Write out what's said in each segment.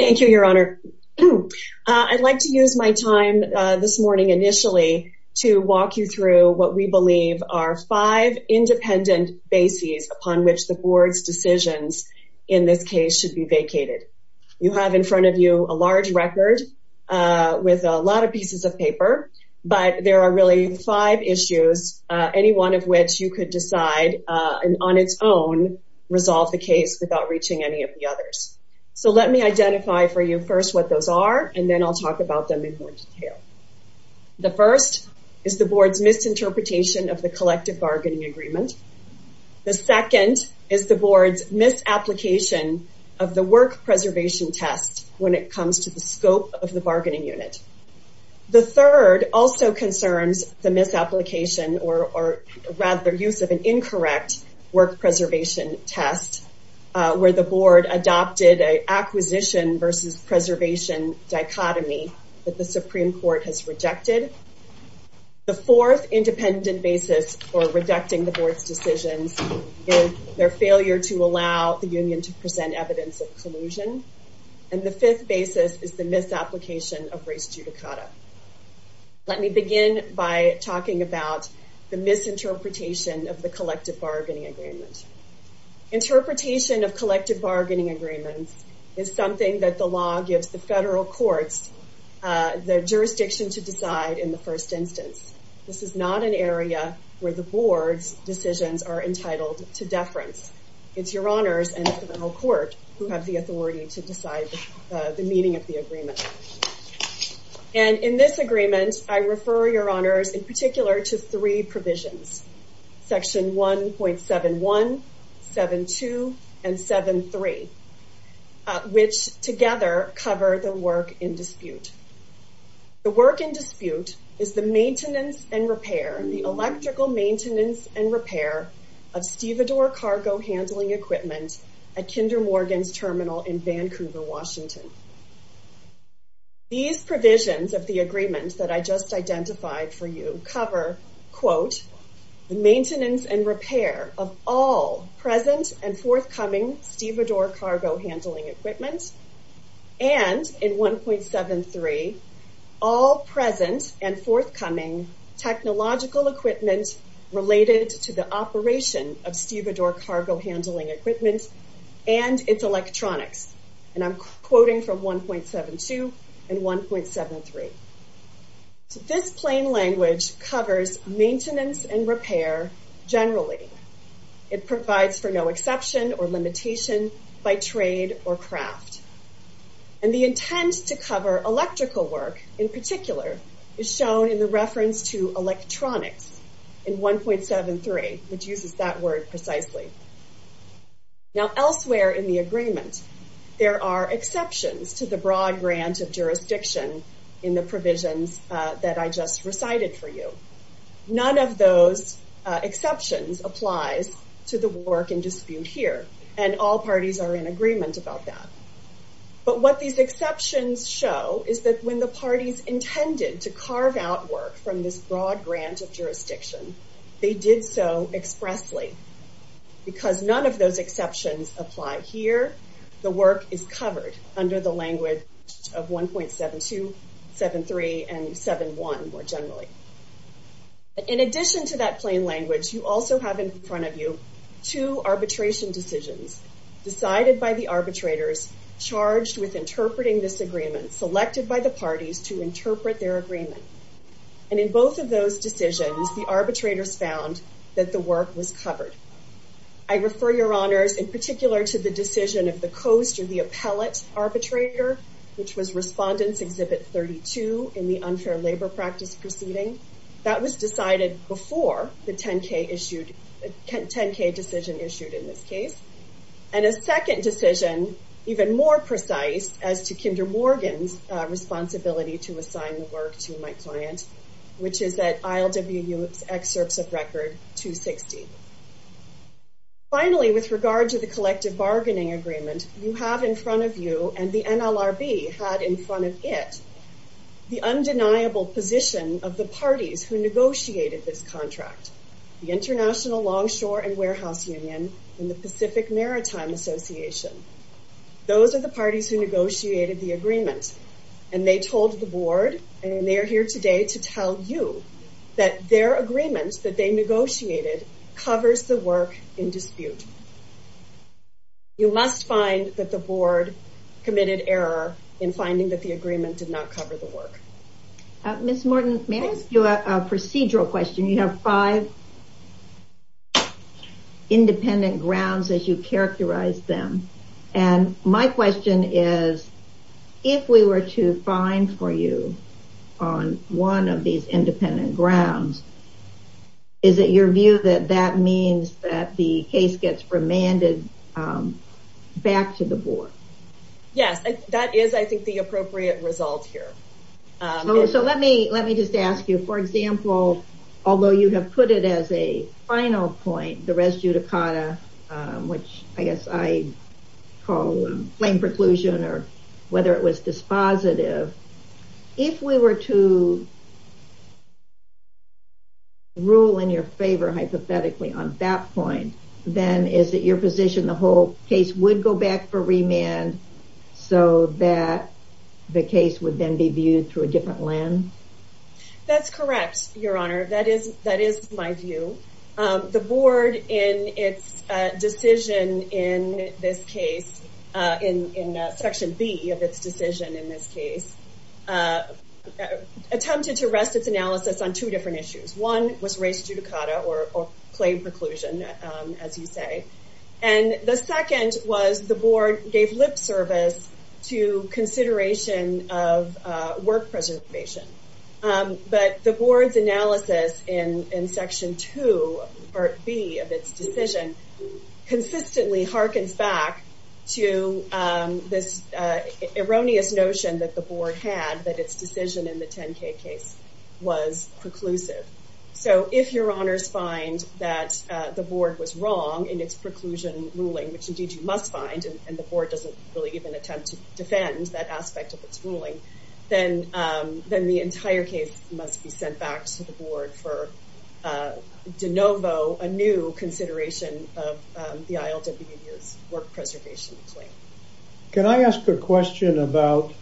Thank you your honor. I'd like to use my time this morning initially to walk you through what we believe are five independent bases upon which the board's decisions in this case should be vacated. You have in front of you a large record with a lot of pieces of paper but there are really five issues any one of which you could decide and on its own resolve the case without reaching any of the for you first what those are and then I'll talk about them in more detail. The first is the board's misinterpretation of the collective bargaining agreement. The second is the board's misapplication of the work preservation test when it comes to the scope of the bargaining unit. The third also concerns the misapplication or rather use of an incorrect work preservation test where the board adopted a acquisition versus preservation dichotomy that the Supreme Court has rejected. The fourth independent basis for rejecting the board's decisions is their failure to allow the union to present evidence of collusion and the fifth basis is the misapplication of race judicata. Let me begin by talking about the misinterpretation of the collective bargaining agreements is something that the law gives the federal courts the jurisdiction to decide in the first instance. This is not an area where the board's decisions are entitled to deference. It's your honors and the federal court who have the authority to decide the meaning of the agreement and in this agreement I refer your honors in particular to three provisions section 1.71, 72 and 73 which together cover the work in dispute. The work in dispute is the maintenance and repair and the electrical maintenance and repair of stevedore cargo handling equipment at Kinder Morgan's terminal in Vancouver Washington. These provisions of the agreement that I just identified for you cover quote the maintenance and repair of all present and forthcoming stevedore cargo handling equipment and in 1.73 all present and forthcoming technological equipment related to the operation of stevedore cargo handling equipment and its electronics and I'm quoting from 1.72 and 1.73. So this plain language covers maintenance and repair generally. It provides for no exception or limitation by trade or craft and the intent to cover electrical work in particular is shown in the reference to electronics in 1.73 which uses that word precisely. Now elsewhere in the agreement there are exceptions to the broad grant of jurisdiction in the provisions that I just recited for you. None of those exceptions applies to the work in dispute here and all parties are in agreement about that but what these exceptions show is that when the parties intended to carve out work from this broad grant of jurisdiction they did so expressly because none of those exceptions apply here. The work is covered under the language of 1.72, 1.73 and 1.71 more generally. In addition to that plain language you also have in front of you two arbitration decisions decided by the arbitrators charged with interpreting this agreement selected by the parties to interpret their agreement and in both of those decisions the arbitrators found that the work was covered. I refer your honors in particular to the decision of the coast or the appellate arbitrator which was respondents exhibit 32 in the unfair labor practice proceeding. That was decided before the 10k issued 10k decision issued in this case and a second decision even more precise as to Kinder Morgan's responsibility to assign the work to my client which is that ILWU excerpts of record 260. Finally with regard to the collective bargaining agreement you have in front of you and the NLRB had in front of it the undeniable position of the parties who negotiated this contract the International Longshore and Warehouse Union and the Pacific Maritime Association. Those are the parties who negotiated the agreement and they told the board and they are here today to tell you that their agreements that they must find that the board committed error in finding that the agreement did not cover the work. Ms. Morton may I ask you a procedural question you have five independent grounds as you characterize them and my question is if we were to find for you on one of these independent grounds is it your view that that means that the case gets remanded back to the board? Yes that is I think the appropriate result here. So let me let me just ask you for example although you have put it as a final point the res judicata which I guess I call flame preclusion or whether it was dispositive if we were to rule in your favor hypothetically on that point then is it your position the whole case would go back for remand so that the case would then be viewed through a different lens? That's correct your honor that is that is my view. The board in its decision in this case in section B of its decision in this case attempted to rest its claim preclusion as you say and the second was the board gave lip service to consideration of work preservation but the board's analysis in in section 2 part B of its decision consistently harkens back to this erroneous notion that the board had that its decision in the 10k case was preclusive so if your honors find that the board was wrong in its preclusion ruling which indeed you must find and the board doesn't really even attempt to defend that aspect of its ruling then then the entire case must be sent back to the board for de novo a new consideration of the ILWU's work preservation claim. Can I ask a question about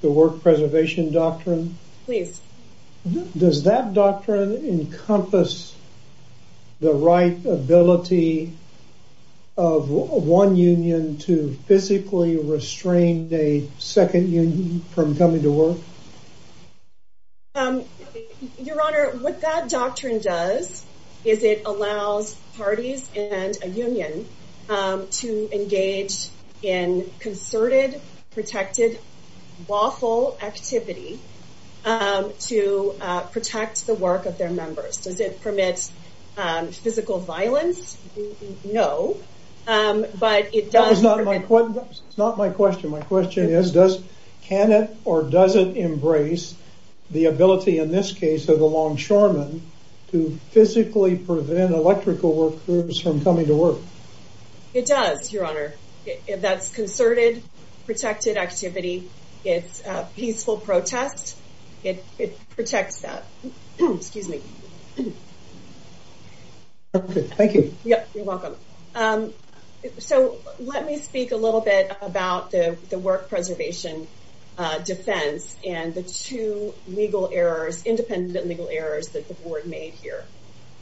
the work preservation doctrine? Please. Does that doctrine encompass the right ability of one union to physically restrain a second union from coming to work? Your honor what that doctrine does is it allows parties and a union to engage in concerted protected lawful activity to protect the work of their members. Does it permit physical violence? No but it does. It's not my question my question is does can it or doesn't embrace the ability in this case of the longshoremen to physically prevent electrical workers from coming to work? It does your honor if that's concerted protected activity it's peaceful protest it protects that. So let me speak a little bit about the work preservation defense and the two legal errors independent legal errors that the board made here.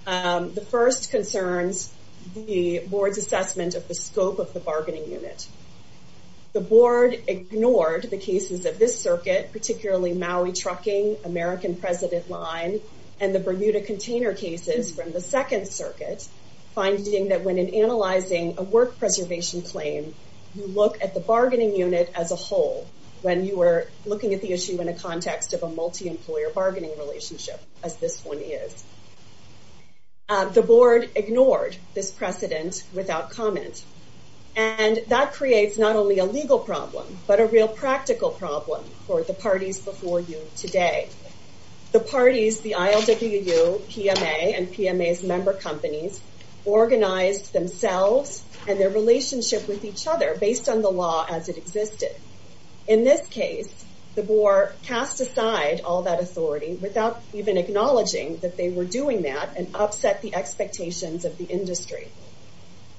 The first concerns the board's of the scope of the bargaining unit. The board ignored the cases of this circuit particularly Maui trucking American president line and the Bermuda container cases from the Second Circuit finding that when in analyzing a work preservation claim you look at the bargaining unit as a whole when you were looking at the issue in a context of a multi-employer bargaining relationship as this one is. The board ignored this precedent without comment and that creates not only a legal problem but a real practical problem for the parties before you today. The parties the ILWU, PMA and PMA's member companies organized themselves and their relationship with each other based on the law as it acknowledging that they were doing that and upset the expectations of the industry.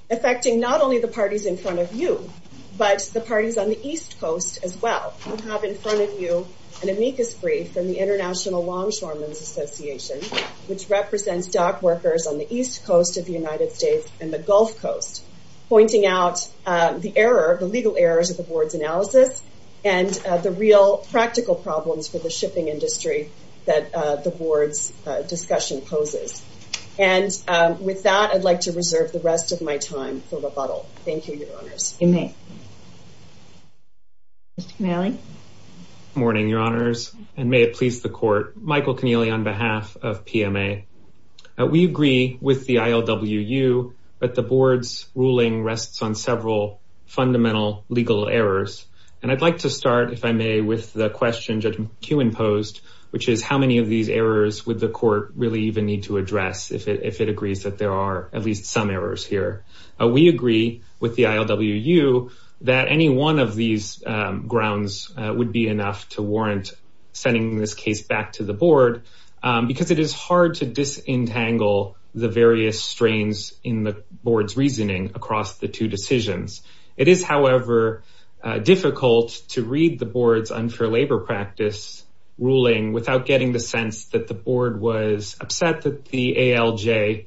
Affecting not only the parties in front of you but the parties on the East Coast as well. We have in front of you an amicus brief from the International Longshoremen's Association which represents dock workers on the East Coast of the United States and the Gulf Coast pointing out the error the legal errors of the board's analysis and the real practical problems for the board's discussion poses. And with that I'd like to reserve the rest of my time for rebuttal. Thank you, your honors. You may. Mr. Keneally. Morning, your honors and may it please the court. Michael Keneally on behalf of PMA. We agree with the ILWU but the board's ruling rests on several fundamental legal errors and I'd like to start if I may with the question Judge would the court really even need to address if it agrees that there are at least some errors here. We agree with the ILWU that any one of these grounds would be enough to warrant sending this case back to the board because it is hard to disentangle the various strains in the board's reasoning across the two decisions. It is however difficult to read the board's unfair labor practice ruling without getting the sense that the board was upset that the ALJ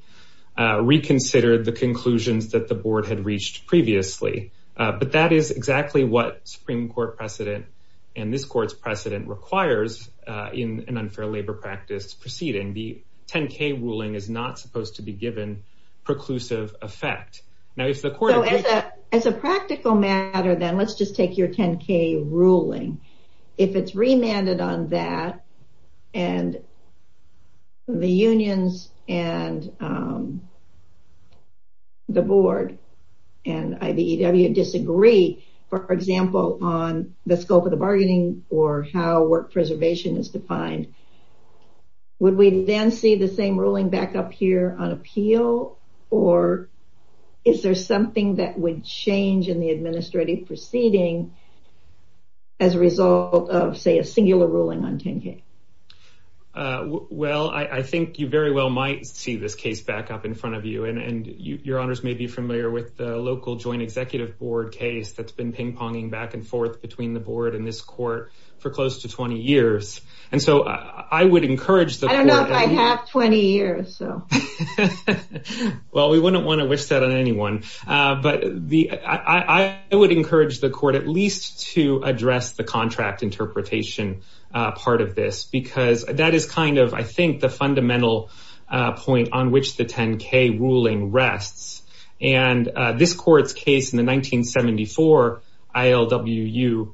reconsidered the conclusions that the board had reached previously. But that is exactly what Supreme Court precedent and this court's precedent requires in an unfair labor practice proceeding. The 10k ruling is not supposed to be given preclusive effect. Now if the court. As a practical matter then let's just take your 10k ruling. If it's remanded on that and the unions and the board and IBEW disagree for example on the scope of the bargaining or how work preservation is defined. Would we then see the same ruling back up here on appeal or is there something that would change in the administrative proceeding as a result of say a singular ruling on 10k? Well I think you very well might see this case back up in front of you and your honors may be familiar with the local joint executive board case that's been ping-ponging back and forth between the board and this court for close to 20 years. And so I would encourage the. I don't know if I have 20 years. Well we wouldn't want to wish that on anyone. But I would encourage the court at least to address the contract interpretation part of this because that is kind of I think the fundamental point on which the 10k ruling rests. And this court's case in the 1974 ILWU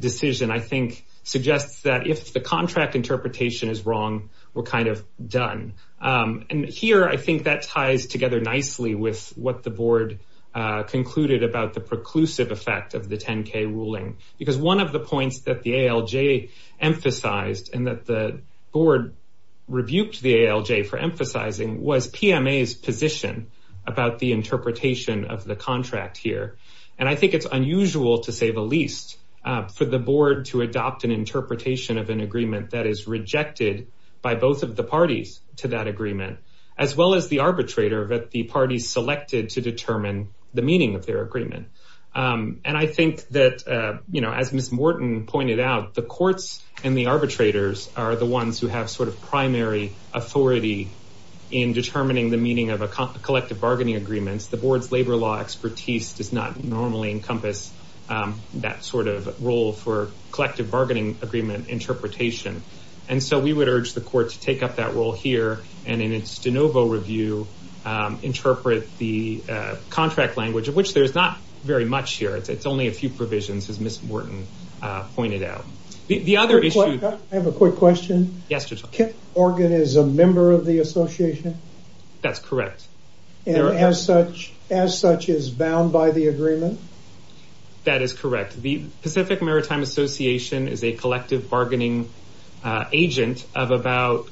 decision I think suggests that if the contract interpretation is wrong we're kind of done. And here I think that ties together nicely with what the board concluded about the preclusive effect of the 10k ruling. Because one of the points that the ALJ emphasized and that the board rebuked the ALJ for emphasizing was PMA's position about the interpretation of the contract here. And I think it's unusual to say the least for the board to adopt an interpretation of an agreement that is rejected by both of the parties to that the parties selected to determine the meaning of their agreement. And I think that you know as Ms. Morton pointed out the courts and the arbitrators are the ones who have sort of primary authority in determining the meaning of a collective bargaining agreements. The board's labor law expertise does not normally encompass that sort of role for collective bargaining agreement interpretation. And so we would urge the court to take up that role here. And in its de novo review interpret the contract language of which there's not very much here. It's only a few provisions as Ms. Morton pointed out. The other issue. I have a quick question. Yes. Kit Morgan is a member of the association. That's correct. As such as such is bound by the agreement. That is correct. The Pacific Maritime Association is a collective bargaining agent of about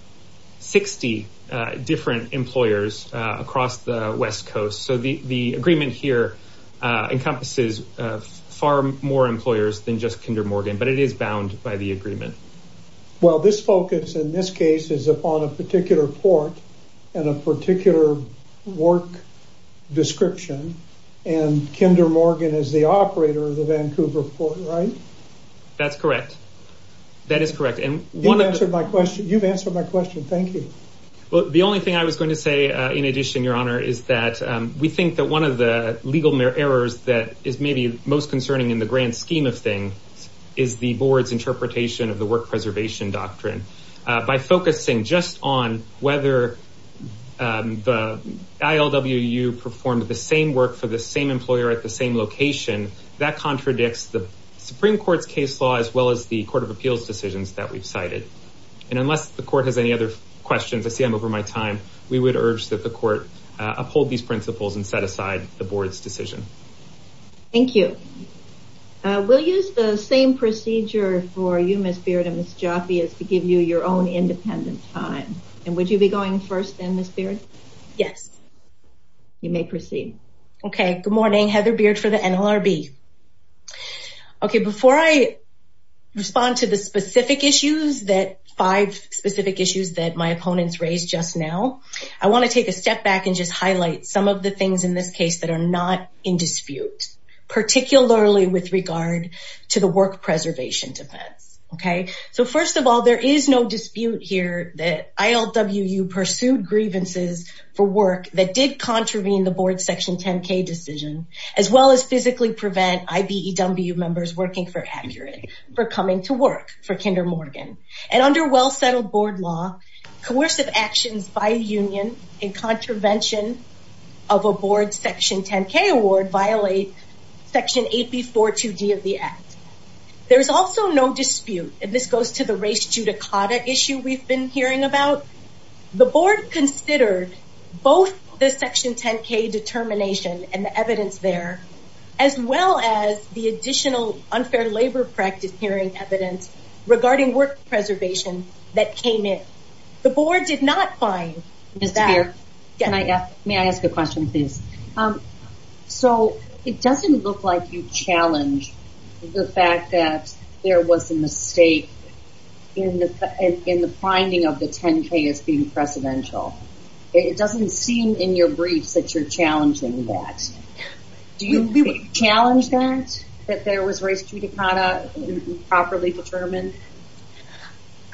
60 different employers across the West Coast. So the agreement here encompasses far more employers than just Kinder Morgan. But it is bound by the agreement. Well this focus in this case is upon a particular port and a particular work description. And Kinder Morgan is the operator of the right. That is correct. And one answer my question. You've answered my question. Thank you. Well the only thing I was going to say in addition your honor is that we think that one of the legal errors that is maybe most concerning in the grand scheme of things is the board's interpretation of the work preservation doctrine. By focusing just on whether the I.L.W.U. performed the same work for the same case law as well as the Court of Appeals decisions that we've cited. And unless the court has any other questions I see I'm over my time. We would urge that the court uphold these principles and set aside the board's decision. Thank you. We'll use the same procedure for you Ms. Beard and Ms. Jaffe to give you your own independent time. And would you be going first then Ms. Beard? Yes. You may proceed. OK. Good morning Heather Beard for the NLRB. OK. Before I respond to the specific issues that five specific issues that my opponents raised just now I want to take a step back and just highlight some of the things in this case that are not in dispute particularly with regard to the work preservation defense. OK. So first of all there is no dispute here that I.L.W.U. pursued grievances for work that did contravene the board's Section 10K decision as well as physically prevent I.B.E.W. members working for Accurate for coming to work for Kinder Morgan. And under well settled board law coercive actions by a union in contravention of a board's Section 10K award violate Section 8B.4.2.D. of the Act. There is also no dispute and this board considered both the Section 10K determination and the evidence there as well as the additional unfair labor practice hearing evidence regarding work preservation that came in. The board did not find. Ms. Beard may I ask a question please? So it doesn't look like you challenge the fact that there was a mistake in the finding of the 10K as being precedential. It doesn't seem in your briefs that you're challenging that. Do you challenge that? That there was race judicata properly determined?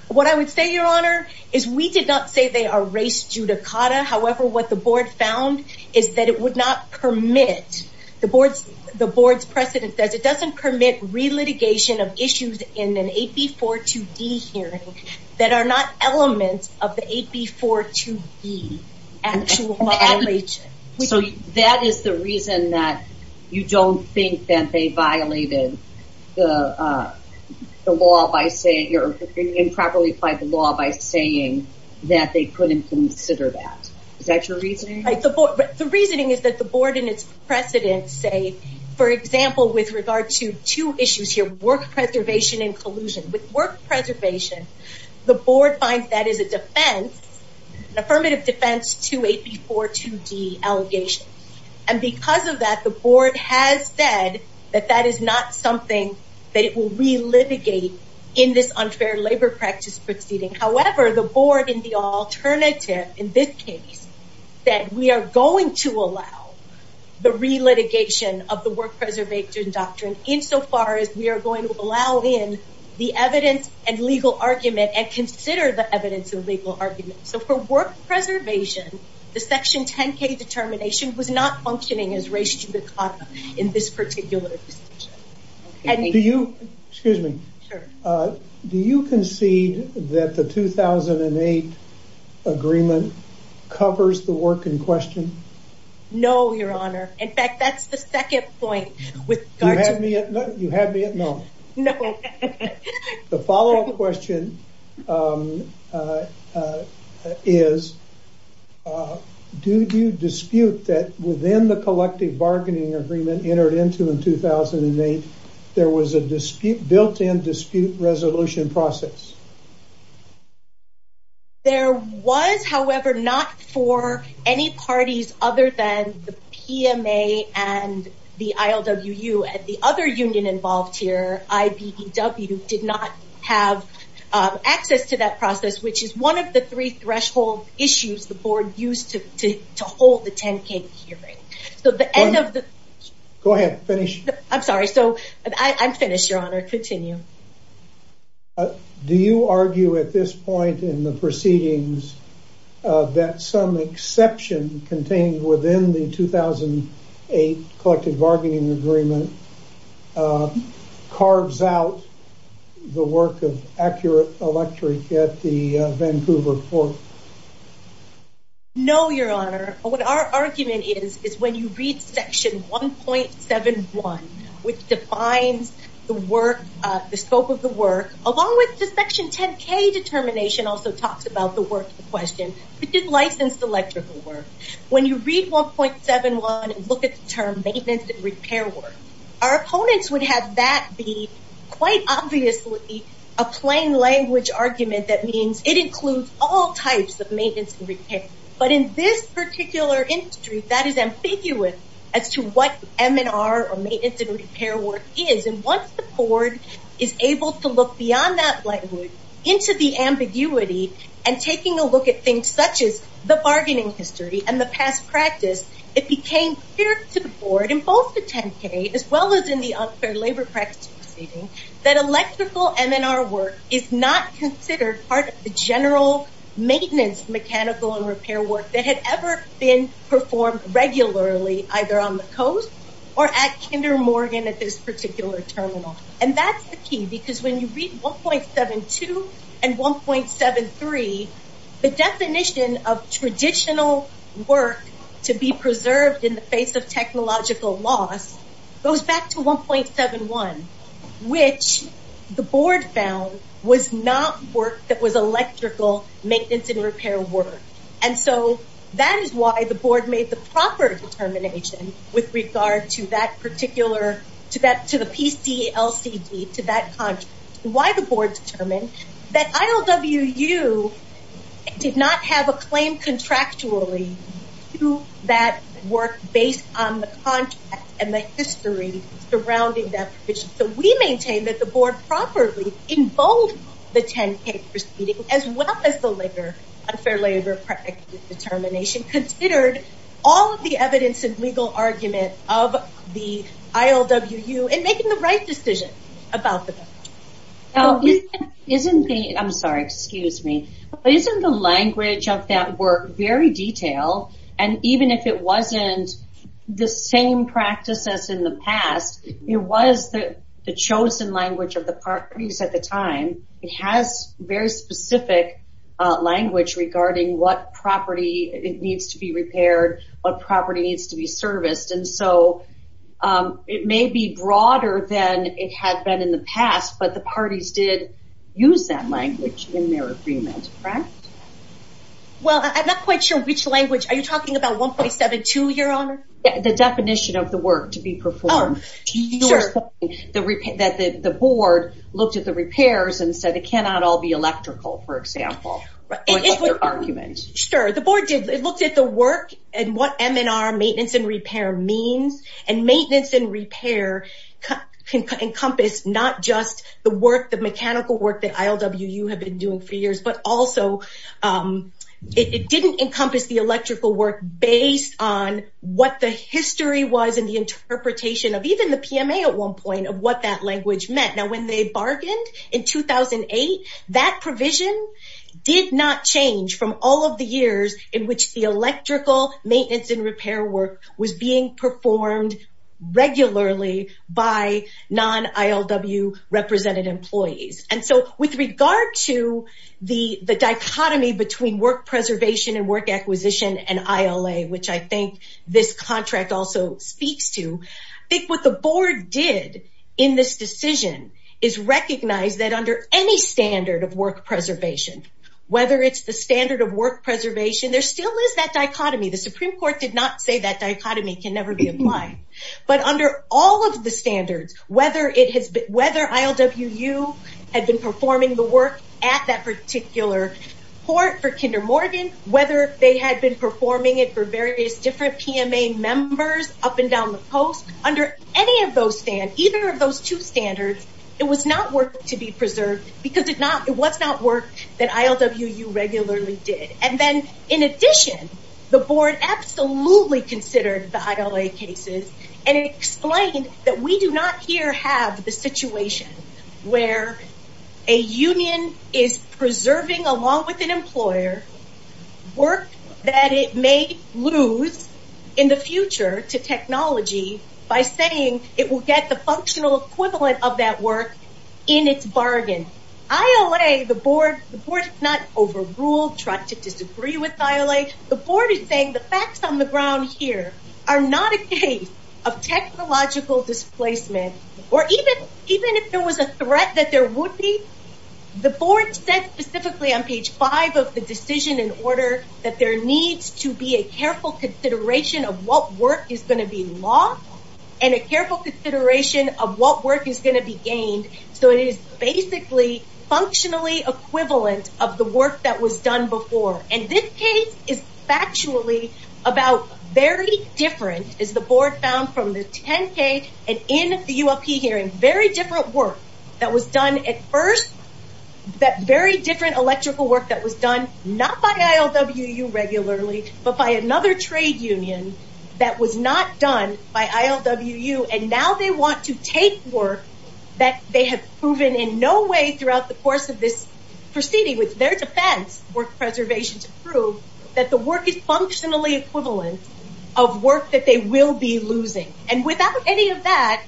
What I would say your honor is we did not say they are race judicata. However what the board found is that it would not permit the board's precedent says it doesn't permit re-litigation of issues in an 8B.4.2.D. hearing that are not elements of the 8B.4.2.D. actual violation. So that is the reason that you don't think that they violated the law by saying or improperly applied the law by saying that they couldn't consider that. Is that your reasoning? The reasoning is that the board and its precedent say for example with regard to two issues here, work preservation and collusion. With work preservation the board finds that is a defense, an affirmative defense to 8B.4.2.D. allegation. And because of that the board has said that that is not something that it will re-litigate in this unfair labor practice proceeding. However the board in the alternative in this case said we are going to allow the re-litigation of the work preservation doctrine in so far as we are going to allow in the evidence and legal argument and consider the evidence and legal argument. So for work preservation the section 10K determination was not functioning as race judicata in this particular decision. Excuse me. Do you concede that the 2008 agreement covers the work in question? No your honor. In fact that is the second point. You had me at no. No. The follow up question is do you dispute that within the collective bargaining agreement entered into in 2008 there was a built in dispute resolution process? There was however not for any parties other than the PMA and the ILWU and the other union involved here IBEW did not have access to that process which is one of the three threshold issues the board used to hold the 10K hearing. Go ahead finish. I'm sorry I'm finished your proceedings that some exception contained within the 2008 collective bargaining agreement carves out the work of Accurate Electric at the Vancouver port. No your honor. What our argument is is when you read section 1.71 which defines the work the scope of the work along with the section 10K determination also talks about the work in question which is licensed electrical work. When you read 1.71 and look at the term maintenance and repair work our opponents would have that be quite obviously a plain language argument that means it includes all types of maintenance and repair work. But in this particular industry that is ambiguous as to what M&R or maintenance and repair work is. And once the board is able to look beyond that language into the ambiguity and taking a look at things such as the bargaining history and the past practice it became clear to the board in both the 10K as well as in the unfair labor practice proceeding that electrical M&R work is not considered part of the general maintenance mechanical and repair work that had ever been performed regularly either on the coast or at Kinder Morgan at this particular terminal. And that's the key because when you read 1.72 and 1.73 the definition of traditional work to be preserved in the face of technological loss goes back to 1.71 which the board found was not work that was electrical maintenance and repair work. And so that is why the board made the proper determination with regard to that particular to the PCLCD to that contract. Why the board determined that ILWU did not have a claim contractually to that work based on the contract and the history surrounding that. So we maintain that the board properly in both the 10K proceeding as well as the later unfair labor practice determination considered all of the evidence and legal argument of the ILWU in making the right decision about the contract. Isn't the, I'm sorry, excuse me. Isn't the language of that work very detailed and even if it wasn't the same practice as in the past it was the chosen language of the parties at the time. It has very specific language regarding what property needs to be repaired, what property needs to be serviced. And so it may be broader than it had been in the past but the parties did use that language in their agreement, correct? Well, I'm not quite sure which language. Are you talking about 1.72, your honor? The definition of the work to be performed. You were saying that the board looked at the repairs and said it cannot all be electrical, for example, was their argument. Sure. The board did. It looked at the work and what MNR, maintenance and repair, means. And maintenance and repair encompass not just the work, the mechanical work that ILWU have been doing for years, but also it didn't encompass the electrical work based on what the history was and the interpretation of even the PMA at one point of what that language meant. Now when they bargained in 2008, that provision did not change from all of the years in which the electrical maintenance and repair work was being performed regularly by non-ILWU represented employees. And so with regard to the dichotomy between work preservation and work acquisition and ILA, which I think this contract also speaks to, I think what the board did in this decision is recognize that under any standard of work preservation, whether it's the standard of work preservation, there still is that dichotomy. The Supreme Court did not say that dichotomy can never be applied. But under all of the standards, whether ILWU had been performing the work at that particular port for Kinder Morgan, whether they had been performing it for various different PMA members up and down the coast, under any of those standards, either of those two standards, it was not work to be preserved because it was not work that ILWU regularly did. And then in addition, the board absolutely considered the ILA cases and explained that we do not here have the situation where a union is preserving along with an employer work that it may lose in the future to technology by saying it will get the functional equivalent of that work in its bargain. ILA, the board not overruled, tried to disagree with ILA. The board is saying the facts on the ground here are not a case of technological displacement or even if there was a threat that there would be, the board said specifically on page five of the decision in order that there needs to be a careful consideration of what work is going to be lost and a careful consideration of what work is going to be gained so it is basically functionally equivalent of the work that was done before. And this case is factually about very different, as the board found from the 10K and in the ULP hearing, very different work that was done at first, that very different electrical work that was done not by ILWU regularly, but by another trade union that was not done by ILWU and now they want to take work that they have proven in no way throughout the course of this proceeding with their defense, work preservation to prove, that the work is functionally equivalent of work that they will be losing. And without any of that,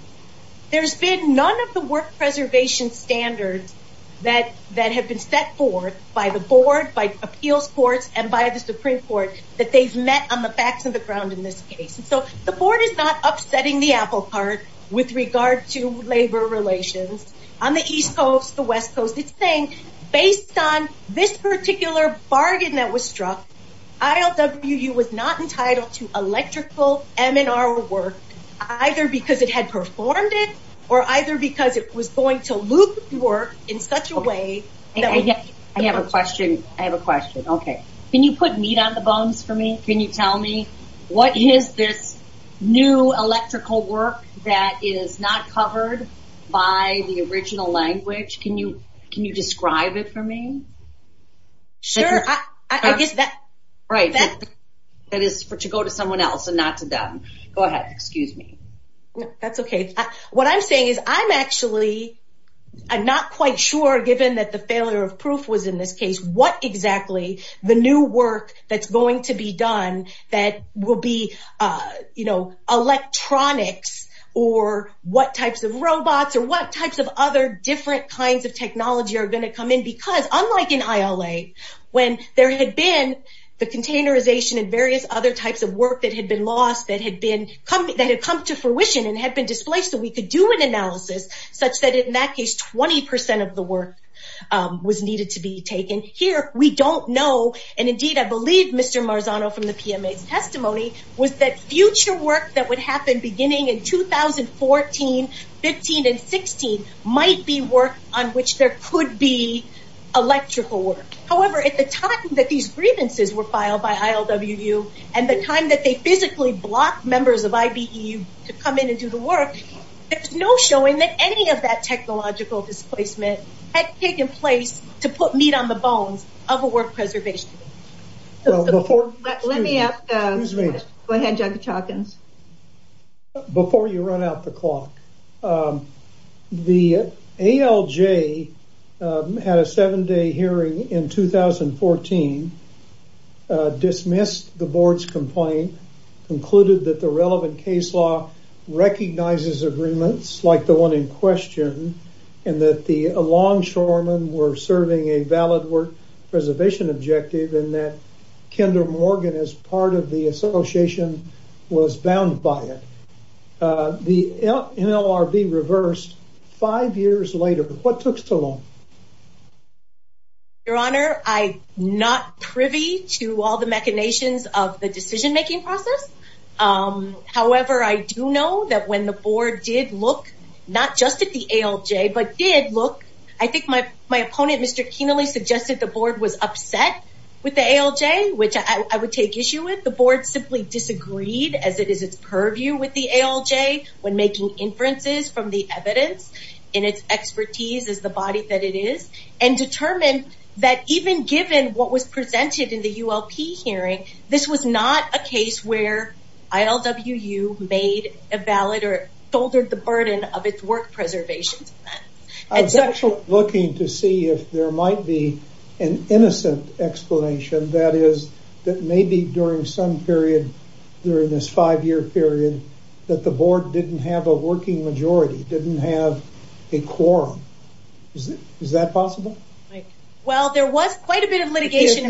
there's been none of the work preservation standards that have been set forth by the board, by appeals courts and by the Supreme Court that they've met on the board. So the board is not upsetting the apple cart with regard to labor relations on the East Coast, the West Coast. It's saying based on this particular bargain that was struck, ILWU was not entitled to electrical MNR work, either because it had performed it or either because it was going to loop work in such a way that would- I have a question. I have a question. Okay. Can you put meat on the bones for me? Can you tell me what is this new electrical work that is not covered by the original language? Can you, can you describe it for me? Sure. I guess that, right. That is for to go to someone else and not to them. Go ahead. Excuse me. That's okay. What I'm saying is I'm actually, I'm not quite sure given that the failure of proof was in this case, what exactly the new work that's going to be done that will be, you know, electronics or what types of robots or what types of other different kinds of technology are going to come in? Because unlike in ILA, when there had been the containerization and various other types of work that had been lost, that had been, that had come to fruition and had been displaced so we could do an analysis such that in that case, 20% of the work was needed to be taken. Here, we don't know and indeed I believe Mr. Marzano from the PMA's testimony was that future work that would happen beginning in 2014, 15 and 16 might be work on which there could be electrical work. However, at the time that these grievances were filed by ILWU and the time that they physically blocked members of IBE to come in and do the work, there's no showing that any of that technological displacement had taken place to put meat on the bones of a work preservation committee. Before you run out the clock, the ALJ had a seven day hearing in 2014, dismissed the board's complaint, concluded that the relevant case law recognizes agreements like the one in question and that the Longshoremen were serving a valid work preservation objective and that Kendra Morgan as part of the association was bound by it. The NLRB reversed five years later. What took so long? Your Honor, I'm not privy to all the machinations of the decision making process. However, I do know that when the board did look, not just at the ALJ, but did look, I think my opponent Mr. Kenally suggested the board was upset with the ALJ, which I would take issue with. The board simply disagreed as it is its purview with the ALJ when making inferences from the evidence and its expertise as the ULP hearing, this was not a case where ILWU made a valid or shouldered the burden of its work preservation. I was actually looking to see if there might be an innocent explanation that is that maybe during some period during this five year period that the board didn't have a working majority, didn't have a quorum. Is that possible? Well, there was quite a bit of litigation.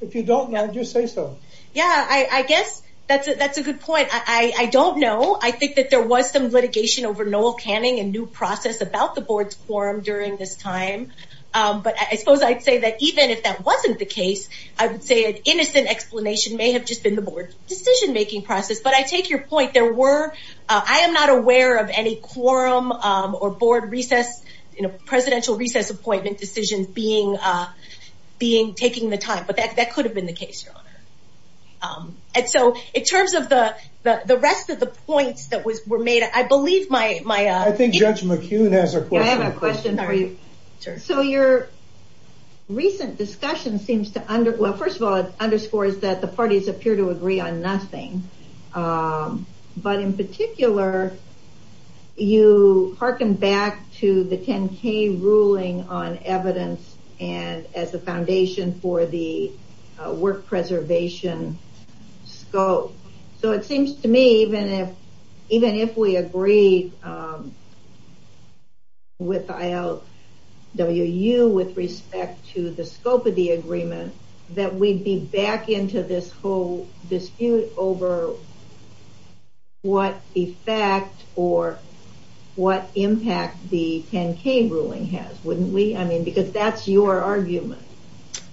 If you don't know, just say so. Yeah, I guess that's a good point. I don't know. I think that there was some litigation over Noel Canning and new process about the board's quorum during this time. But I suppose I'd say that even if that wasn't the case, I would say an innocent explanation may have just been the board decision making process. But I take your point. There were, I am not aware of any quorum or board recess, presidential recess appointment decisions being, taking the time. But that could have been the case, your honor. And so in terms of the rest of the points that were made, I believe my- I think Judge McHugh has a question. I have a question for you. So your recent discussion seems to, well, first of all, it underscores that the parties appear to agree on nothing. But in particular, you hearken back to the 10K ruling on evidence and as a foundation for the work preservation scope. So it seems to me, even if, even if we agree with ILWU with respect to the scope of the agreement, that we'd be back into this whole dispute over what effect or what impact the 10K ruling has, wouldn't we? I mean, because that's your argument.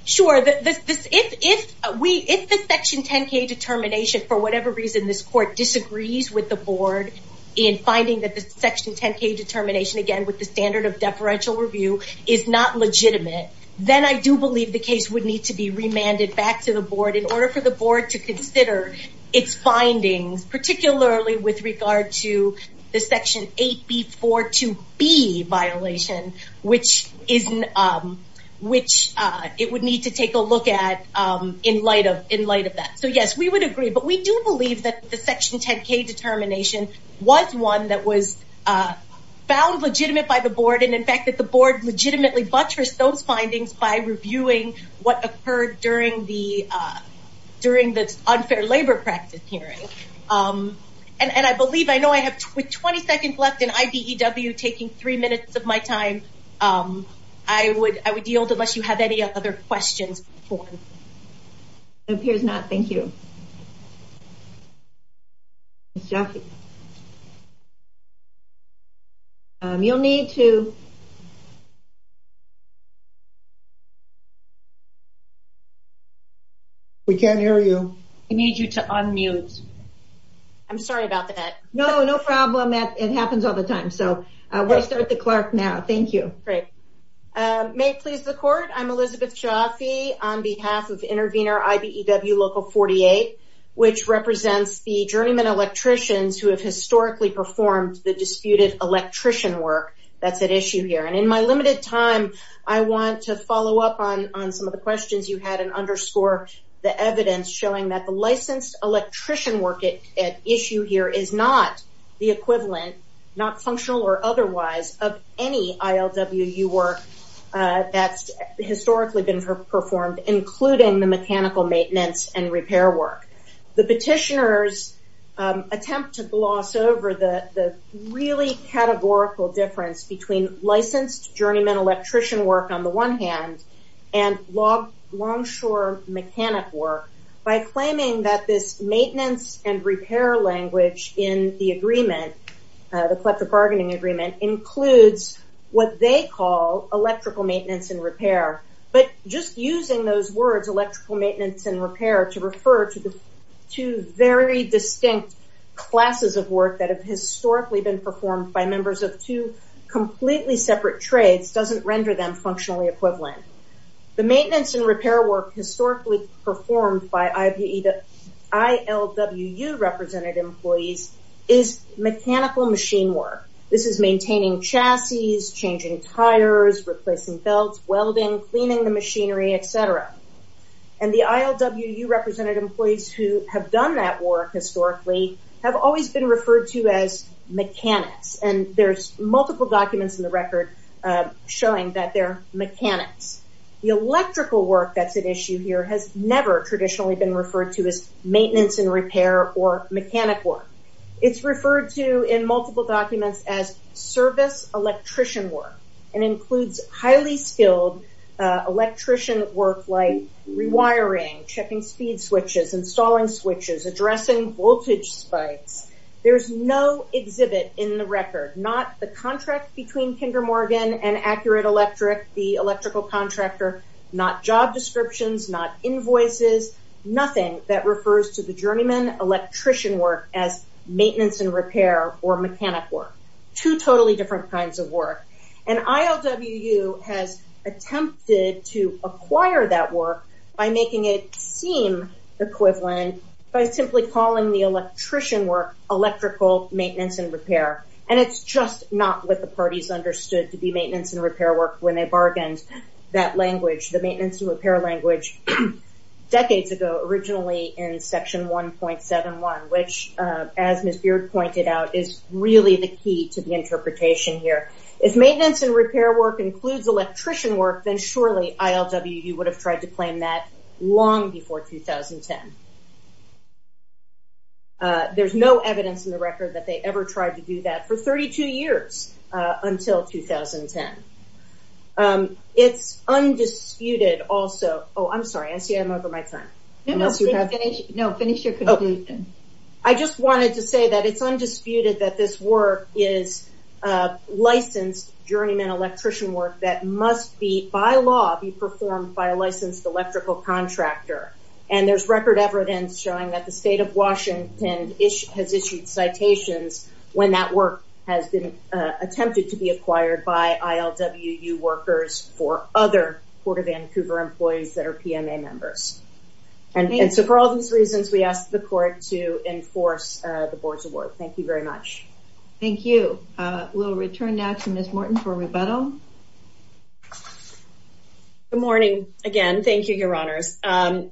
Sure. If we, if the section 10K determination, for whatever reason, this court disagrees with the board in finding that the section 10K determination, again, with the standard of deferential review is not legitimate, then I do believe the case would need to be remanded back to the board in order for the board to consider its findings, particularly with regard to the section 8B42B violation, which is, which it would need to take a look at in light of, in light of that. So yes, we would agree, but we do believe that the section 10K determination was one that was found legitimate by the board. And in fact, that the board legitimately buttressed those findings by reviewing what occurred during the, during the unfair labor practice hearing. And I believe, I know I have 20 seconds left in IBEW, taking three minutes of my time. I would, I would yield unless you have any other questions before. It appears not. Thank you. Ms. Jaffee. You'll need to, you'll need to, you'll need to unmute. We can't hear you. We need you to unmute. I'm sorry about that. No, no problem. It happens all the time. So we'll start the clerk now. Thank you. Great. May it please the court. I'm Elizabeth Jaffee on behalf of Intervenor IBEW Local 48, which represents the journeyman electricians who have historically performed the disputed electrician work that's at issue here. And in my limited time, I want to follow up on some of the questions you had and underscore the evidence showing that the licensed electrician work at issue here is not the equivalent, not functional or otherwise, of any ILWU work that's historically been performed, including the mechanical maintenance and repair work. The petitioners attempt to gloss over the really categorical difference between licensed journeyman electrician work on the one hand and longshore mechanic work by claiming that this maintenance and repair language in the agreement, the collective bargaining agreement, includes what they call electrical maintenance and repair. But just using those words, electrical maintenance and repair, to refer to the two very distinct classes of work that have historically been performed by members of two completely separate trades doesn't render them functionally equivalent. The maintenance and repair work historically performed by ILWU represented employees is mechanical machine work. This is maintaining chassis, changing tires, replacing belts, welding, cleaning the machinery, et cetera. And the ILWU represented employees who have done that work historically have always been referred to as mechanics. And there's multiple documents in the record showing that they're mechanics. The electrical work that's at issue here has never traditionally been referred to as maintenance and repair or mechanic work. It's referred to in multiple documents as service electrician work and includes highly skilled electrician work like rewiring, checking speed switches, installing switches, addressing voltage spikes. There's no exhibit in the record, not the contract between Kinder Morgan and Accurate Electric, the electrical contractor, not job descriptions, not invoices, nothing that refers to the journeyman electrician work as maintenance and repair or mechanic work. Two totally different kinds of work. And ILWU has attempted to acquire that work by making it seem equivalent by simply calling the electrician work electrical maintenance and repair. And it's just not what the parties understood to be maintenance and repair work when they bargained that language, the maintenance and repair language, decades ago, originally in Section 1.71, which as Ms. Beard pointed out, is really the key to the interpretation here. If maintenance and repair work includes electrician work, then surely ILWU would have tried to claim that long before 2010. There's no evidence in the record that they ever tried to do that for 32 years until 2010. It's undisputed also, oh, I'm sorry, I see I'm over my time. No, no, finish your conclusion. I just wanted to say that it's undisputed that this work is licensed journeyman electrician work that must be, by law, be performed by a licensed electrical contractor. And there's record evidence showing that the state of and that work has been attempted to be acquired by ILWU workers for other Port of Vancouver employees that are PMA members. And so for all these reasons, we ask the court to enforce the board's award. Thank you very much. Thank you. We'll return now to Ms. Morton for rebuttal. Good morning again. Thank you, Your Honors. I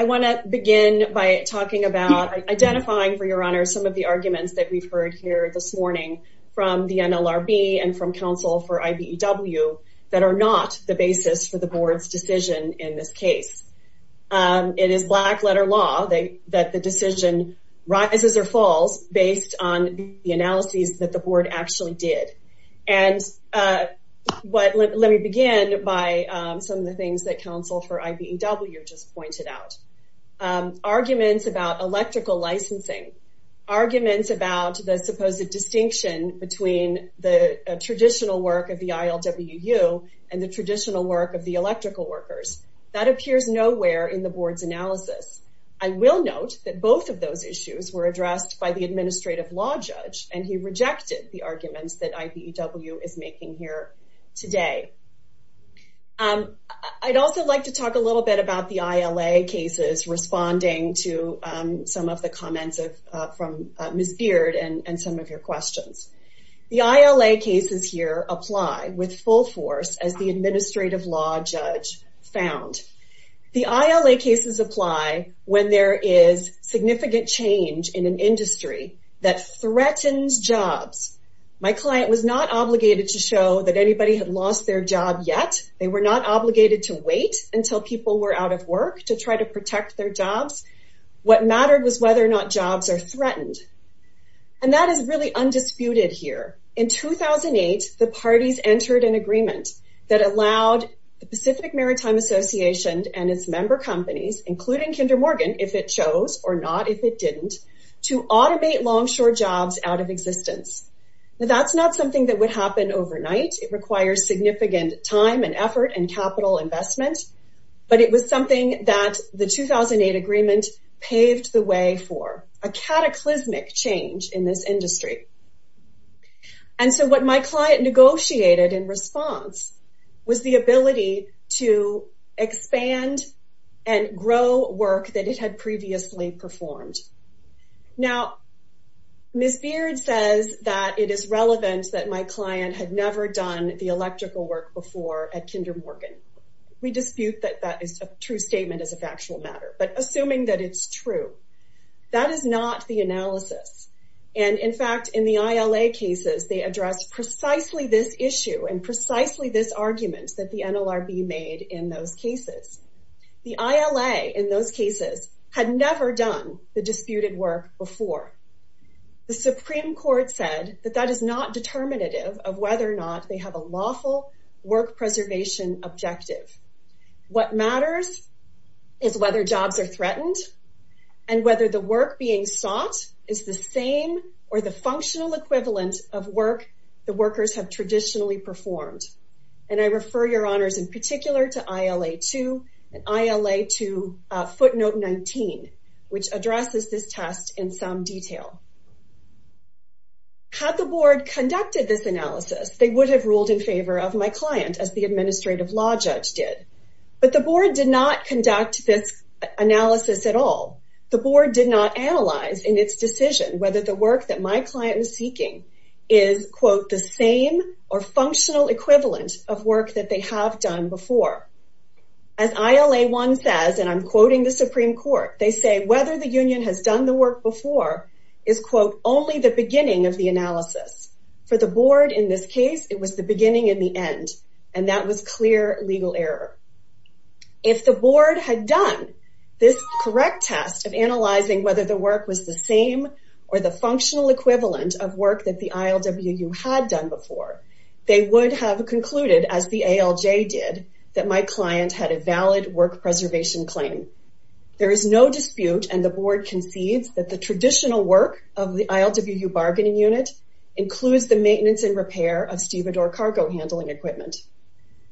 want to begin by talking about identifying for Your Honors some of the arguments that we've heard here this morning from the NLRB and from counsel for IBEW that are not the basis for the board's decision in this case. It is black letter law that the decision rises or falls based on the analyses that the board actually did. And let me begin by some of the things that counsel for IBEW just pointed out. Arguments about electrical licensing, arguments about the supposed distinction between the traditional work of the ILWU and the traditional work of the electrical workers. That appears nowhere in the board's analysis. I will note that both of those issues were addressed by the administrative law judge, and he rejected the arguments that IBEW is making here today. I'd also like to talk a little bit about the ILA cases responding to some of the comments from Ms. Beard and some of your questions. The ILA cases here apply with full force as the administrative law judge found. The ILA cases apply when there is significant change in an industry that threatens jobs. My client was not obligated to show that anybody had their job yet. They were not obligated to wait until people were out of work to try to protect their jobs. What mattered was whether or not jobs are threatened. And that is really undisputed here. In 2008, the parties entered an agreement that allowed the Pacific Maritime Association and its member companies, including Kinder Morgan, if it chose or not, if it didn't, to automate longshore jobs out of existence. That's not something that would happen overnight. It requires significant time and effort and capital investment, but it was something that the 2008 agreement paved the way for, a cataclysmic change in this industry. And so what my client negotiated in response was the ability to expand and grow work that it had previously performed. Now, Ms. Beard says that it is relevant that my client had never done the electrical work before at Kinder Morgan. We dispute that that is a true statement as a factual matter, but assuming that it's true, that is not the analysis. And in fact, in the ILA cases, they address precisely this issue and precisely this argument that the NLRB made in those cases. The ILA in those cases had never done the disputed work before. The Supreme Court said that that is not determinative of whether or not they have a lawful work preservation objective. What matters is whether jobs are threatened and whether the work being sought is the same or the functional equivalent of work the workers have traditionally performed. And I refer your honors in particular to ILA-2 and ILA-2 Note 19, which addresses this test in some detail. Had the board conducted this analysis, they would have ruled in favor of my client as the administrative law judge did. But the board did not conduct this analysis at all. The board did not analyze in its decision whether the work that my client was seeking is quote the same or functional equivalent of work that they have done before. As ILA-1 says, and I'm quoting the Supreme Court, they say whether the union has done the work before is quote only the beginning of the analysis. For the board in this case, it was the beginning and the end. And that was clear legal error. If the board had done this correct test of analyzing whether the work was the same or the functional equivalent of work that the ILWU had done before, they would have concluded as the ALJ did, that my client had a valid work preservation claim. There is no dispute and the board concedes that the traditional work of the ILWU bargaining unit includes the maintenance and repair of Stevedore cargo handling equipment.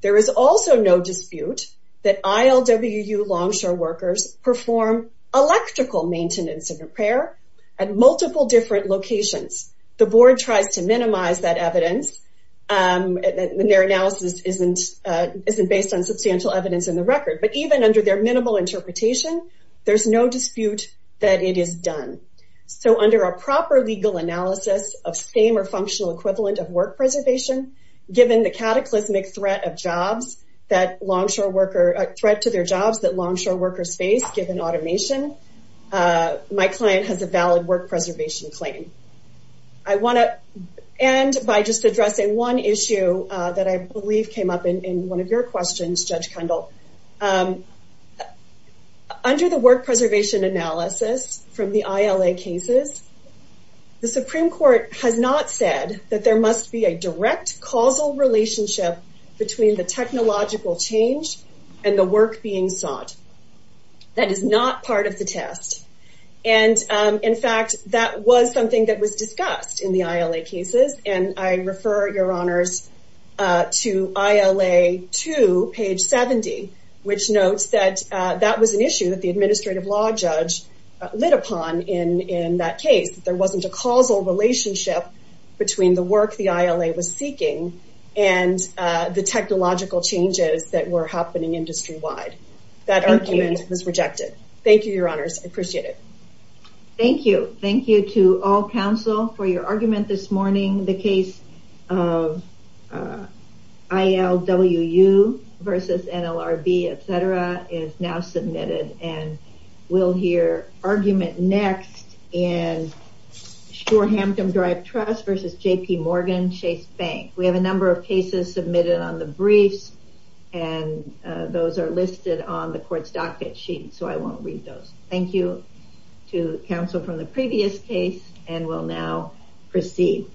There is also no dispute that ILWU longshore workers perform electrical maintenance and repair at multiple different locations. The board tries to minimize that record, but even under their minimal interpretation, there's no dispute that it is done. So under a proper legal analysis of same or functional equivalent of work preservation, given the cataclysmic threat to their jobs that longshore workers face given automation, my client has a valid work preservation claim. I want to end by just addressing one issue that I believe came up in one of your questions, Judge Kendall. Under the work preservation analysis from the ILA cases, the Supreme Court has not said that there must be a direct causal relationship between the technological change and the work being sought. That is not part of the test. And in fact, that was something that was discussed in the ILA cases and I refer your honors to ILA 2, page 70, which notes that that was an issue that the administrative law judge lit upon in that case. There wasn't a causal relationship between the work the ILA was seeking and the technological changes that were happening industry-wide. That argument was rejected. Thank you, your honors. I appreciate it. Thank you. Thank you to all counsel for your argument this morning. The case of ILA 2, LWU versus NLRB, et cetera, is now submitted and we'll hear argument next in Shorehampton Drive Trust versus JPMorgan Chase Bank. We have a number of cases submitted on the briefs and those are listed on the court's docket sheet. So I won't read those. Thank you to counsel from the previous case and we'll now proceed.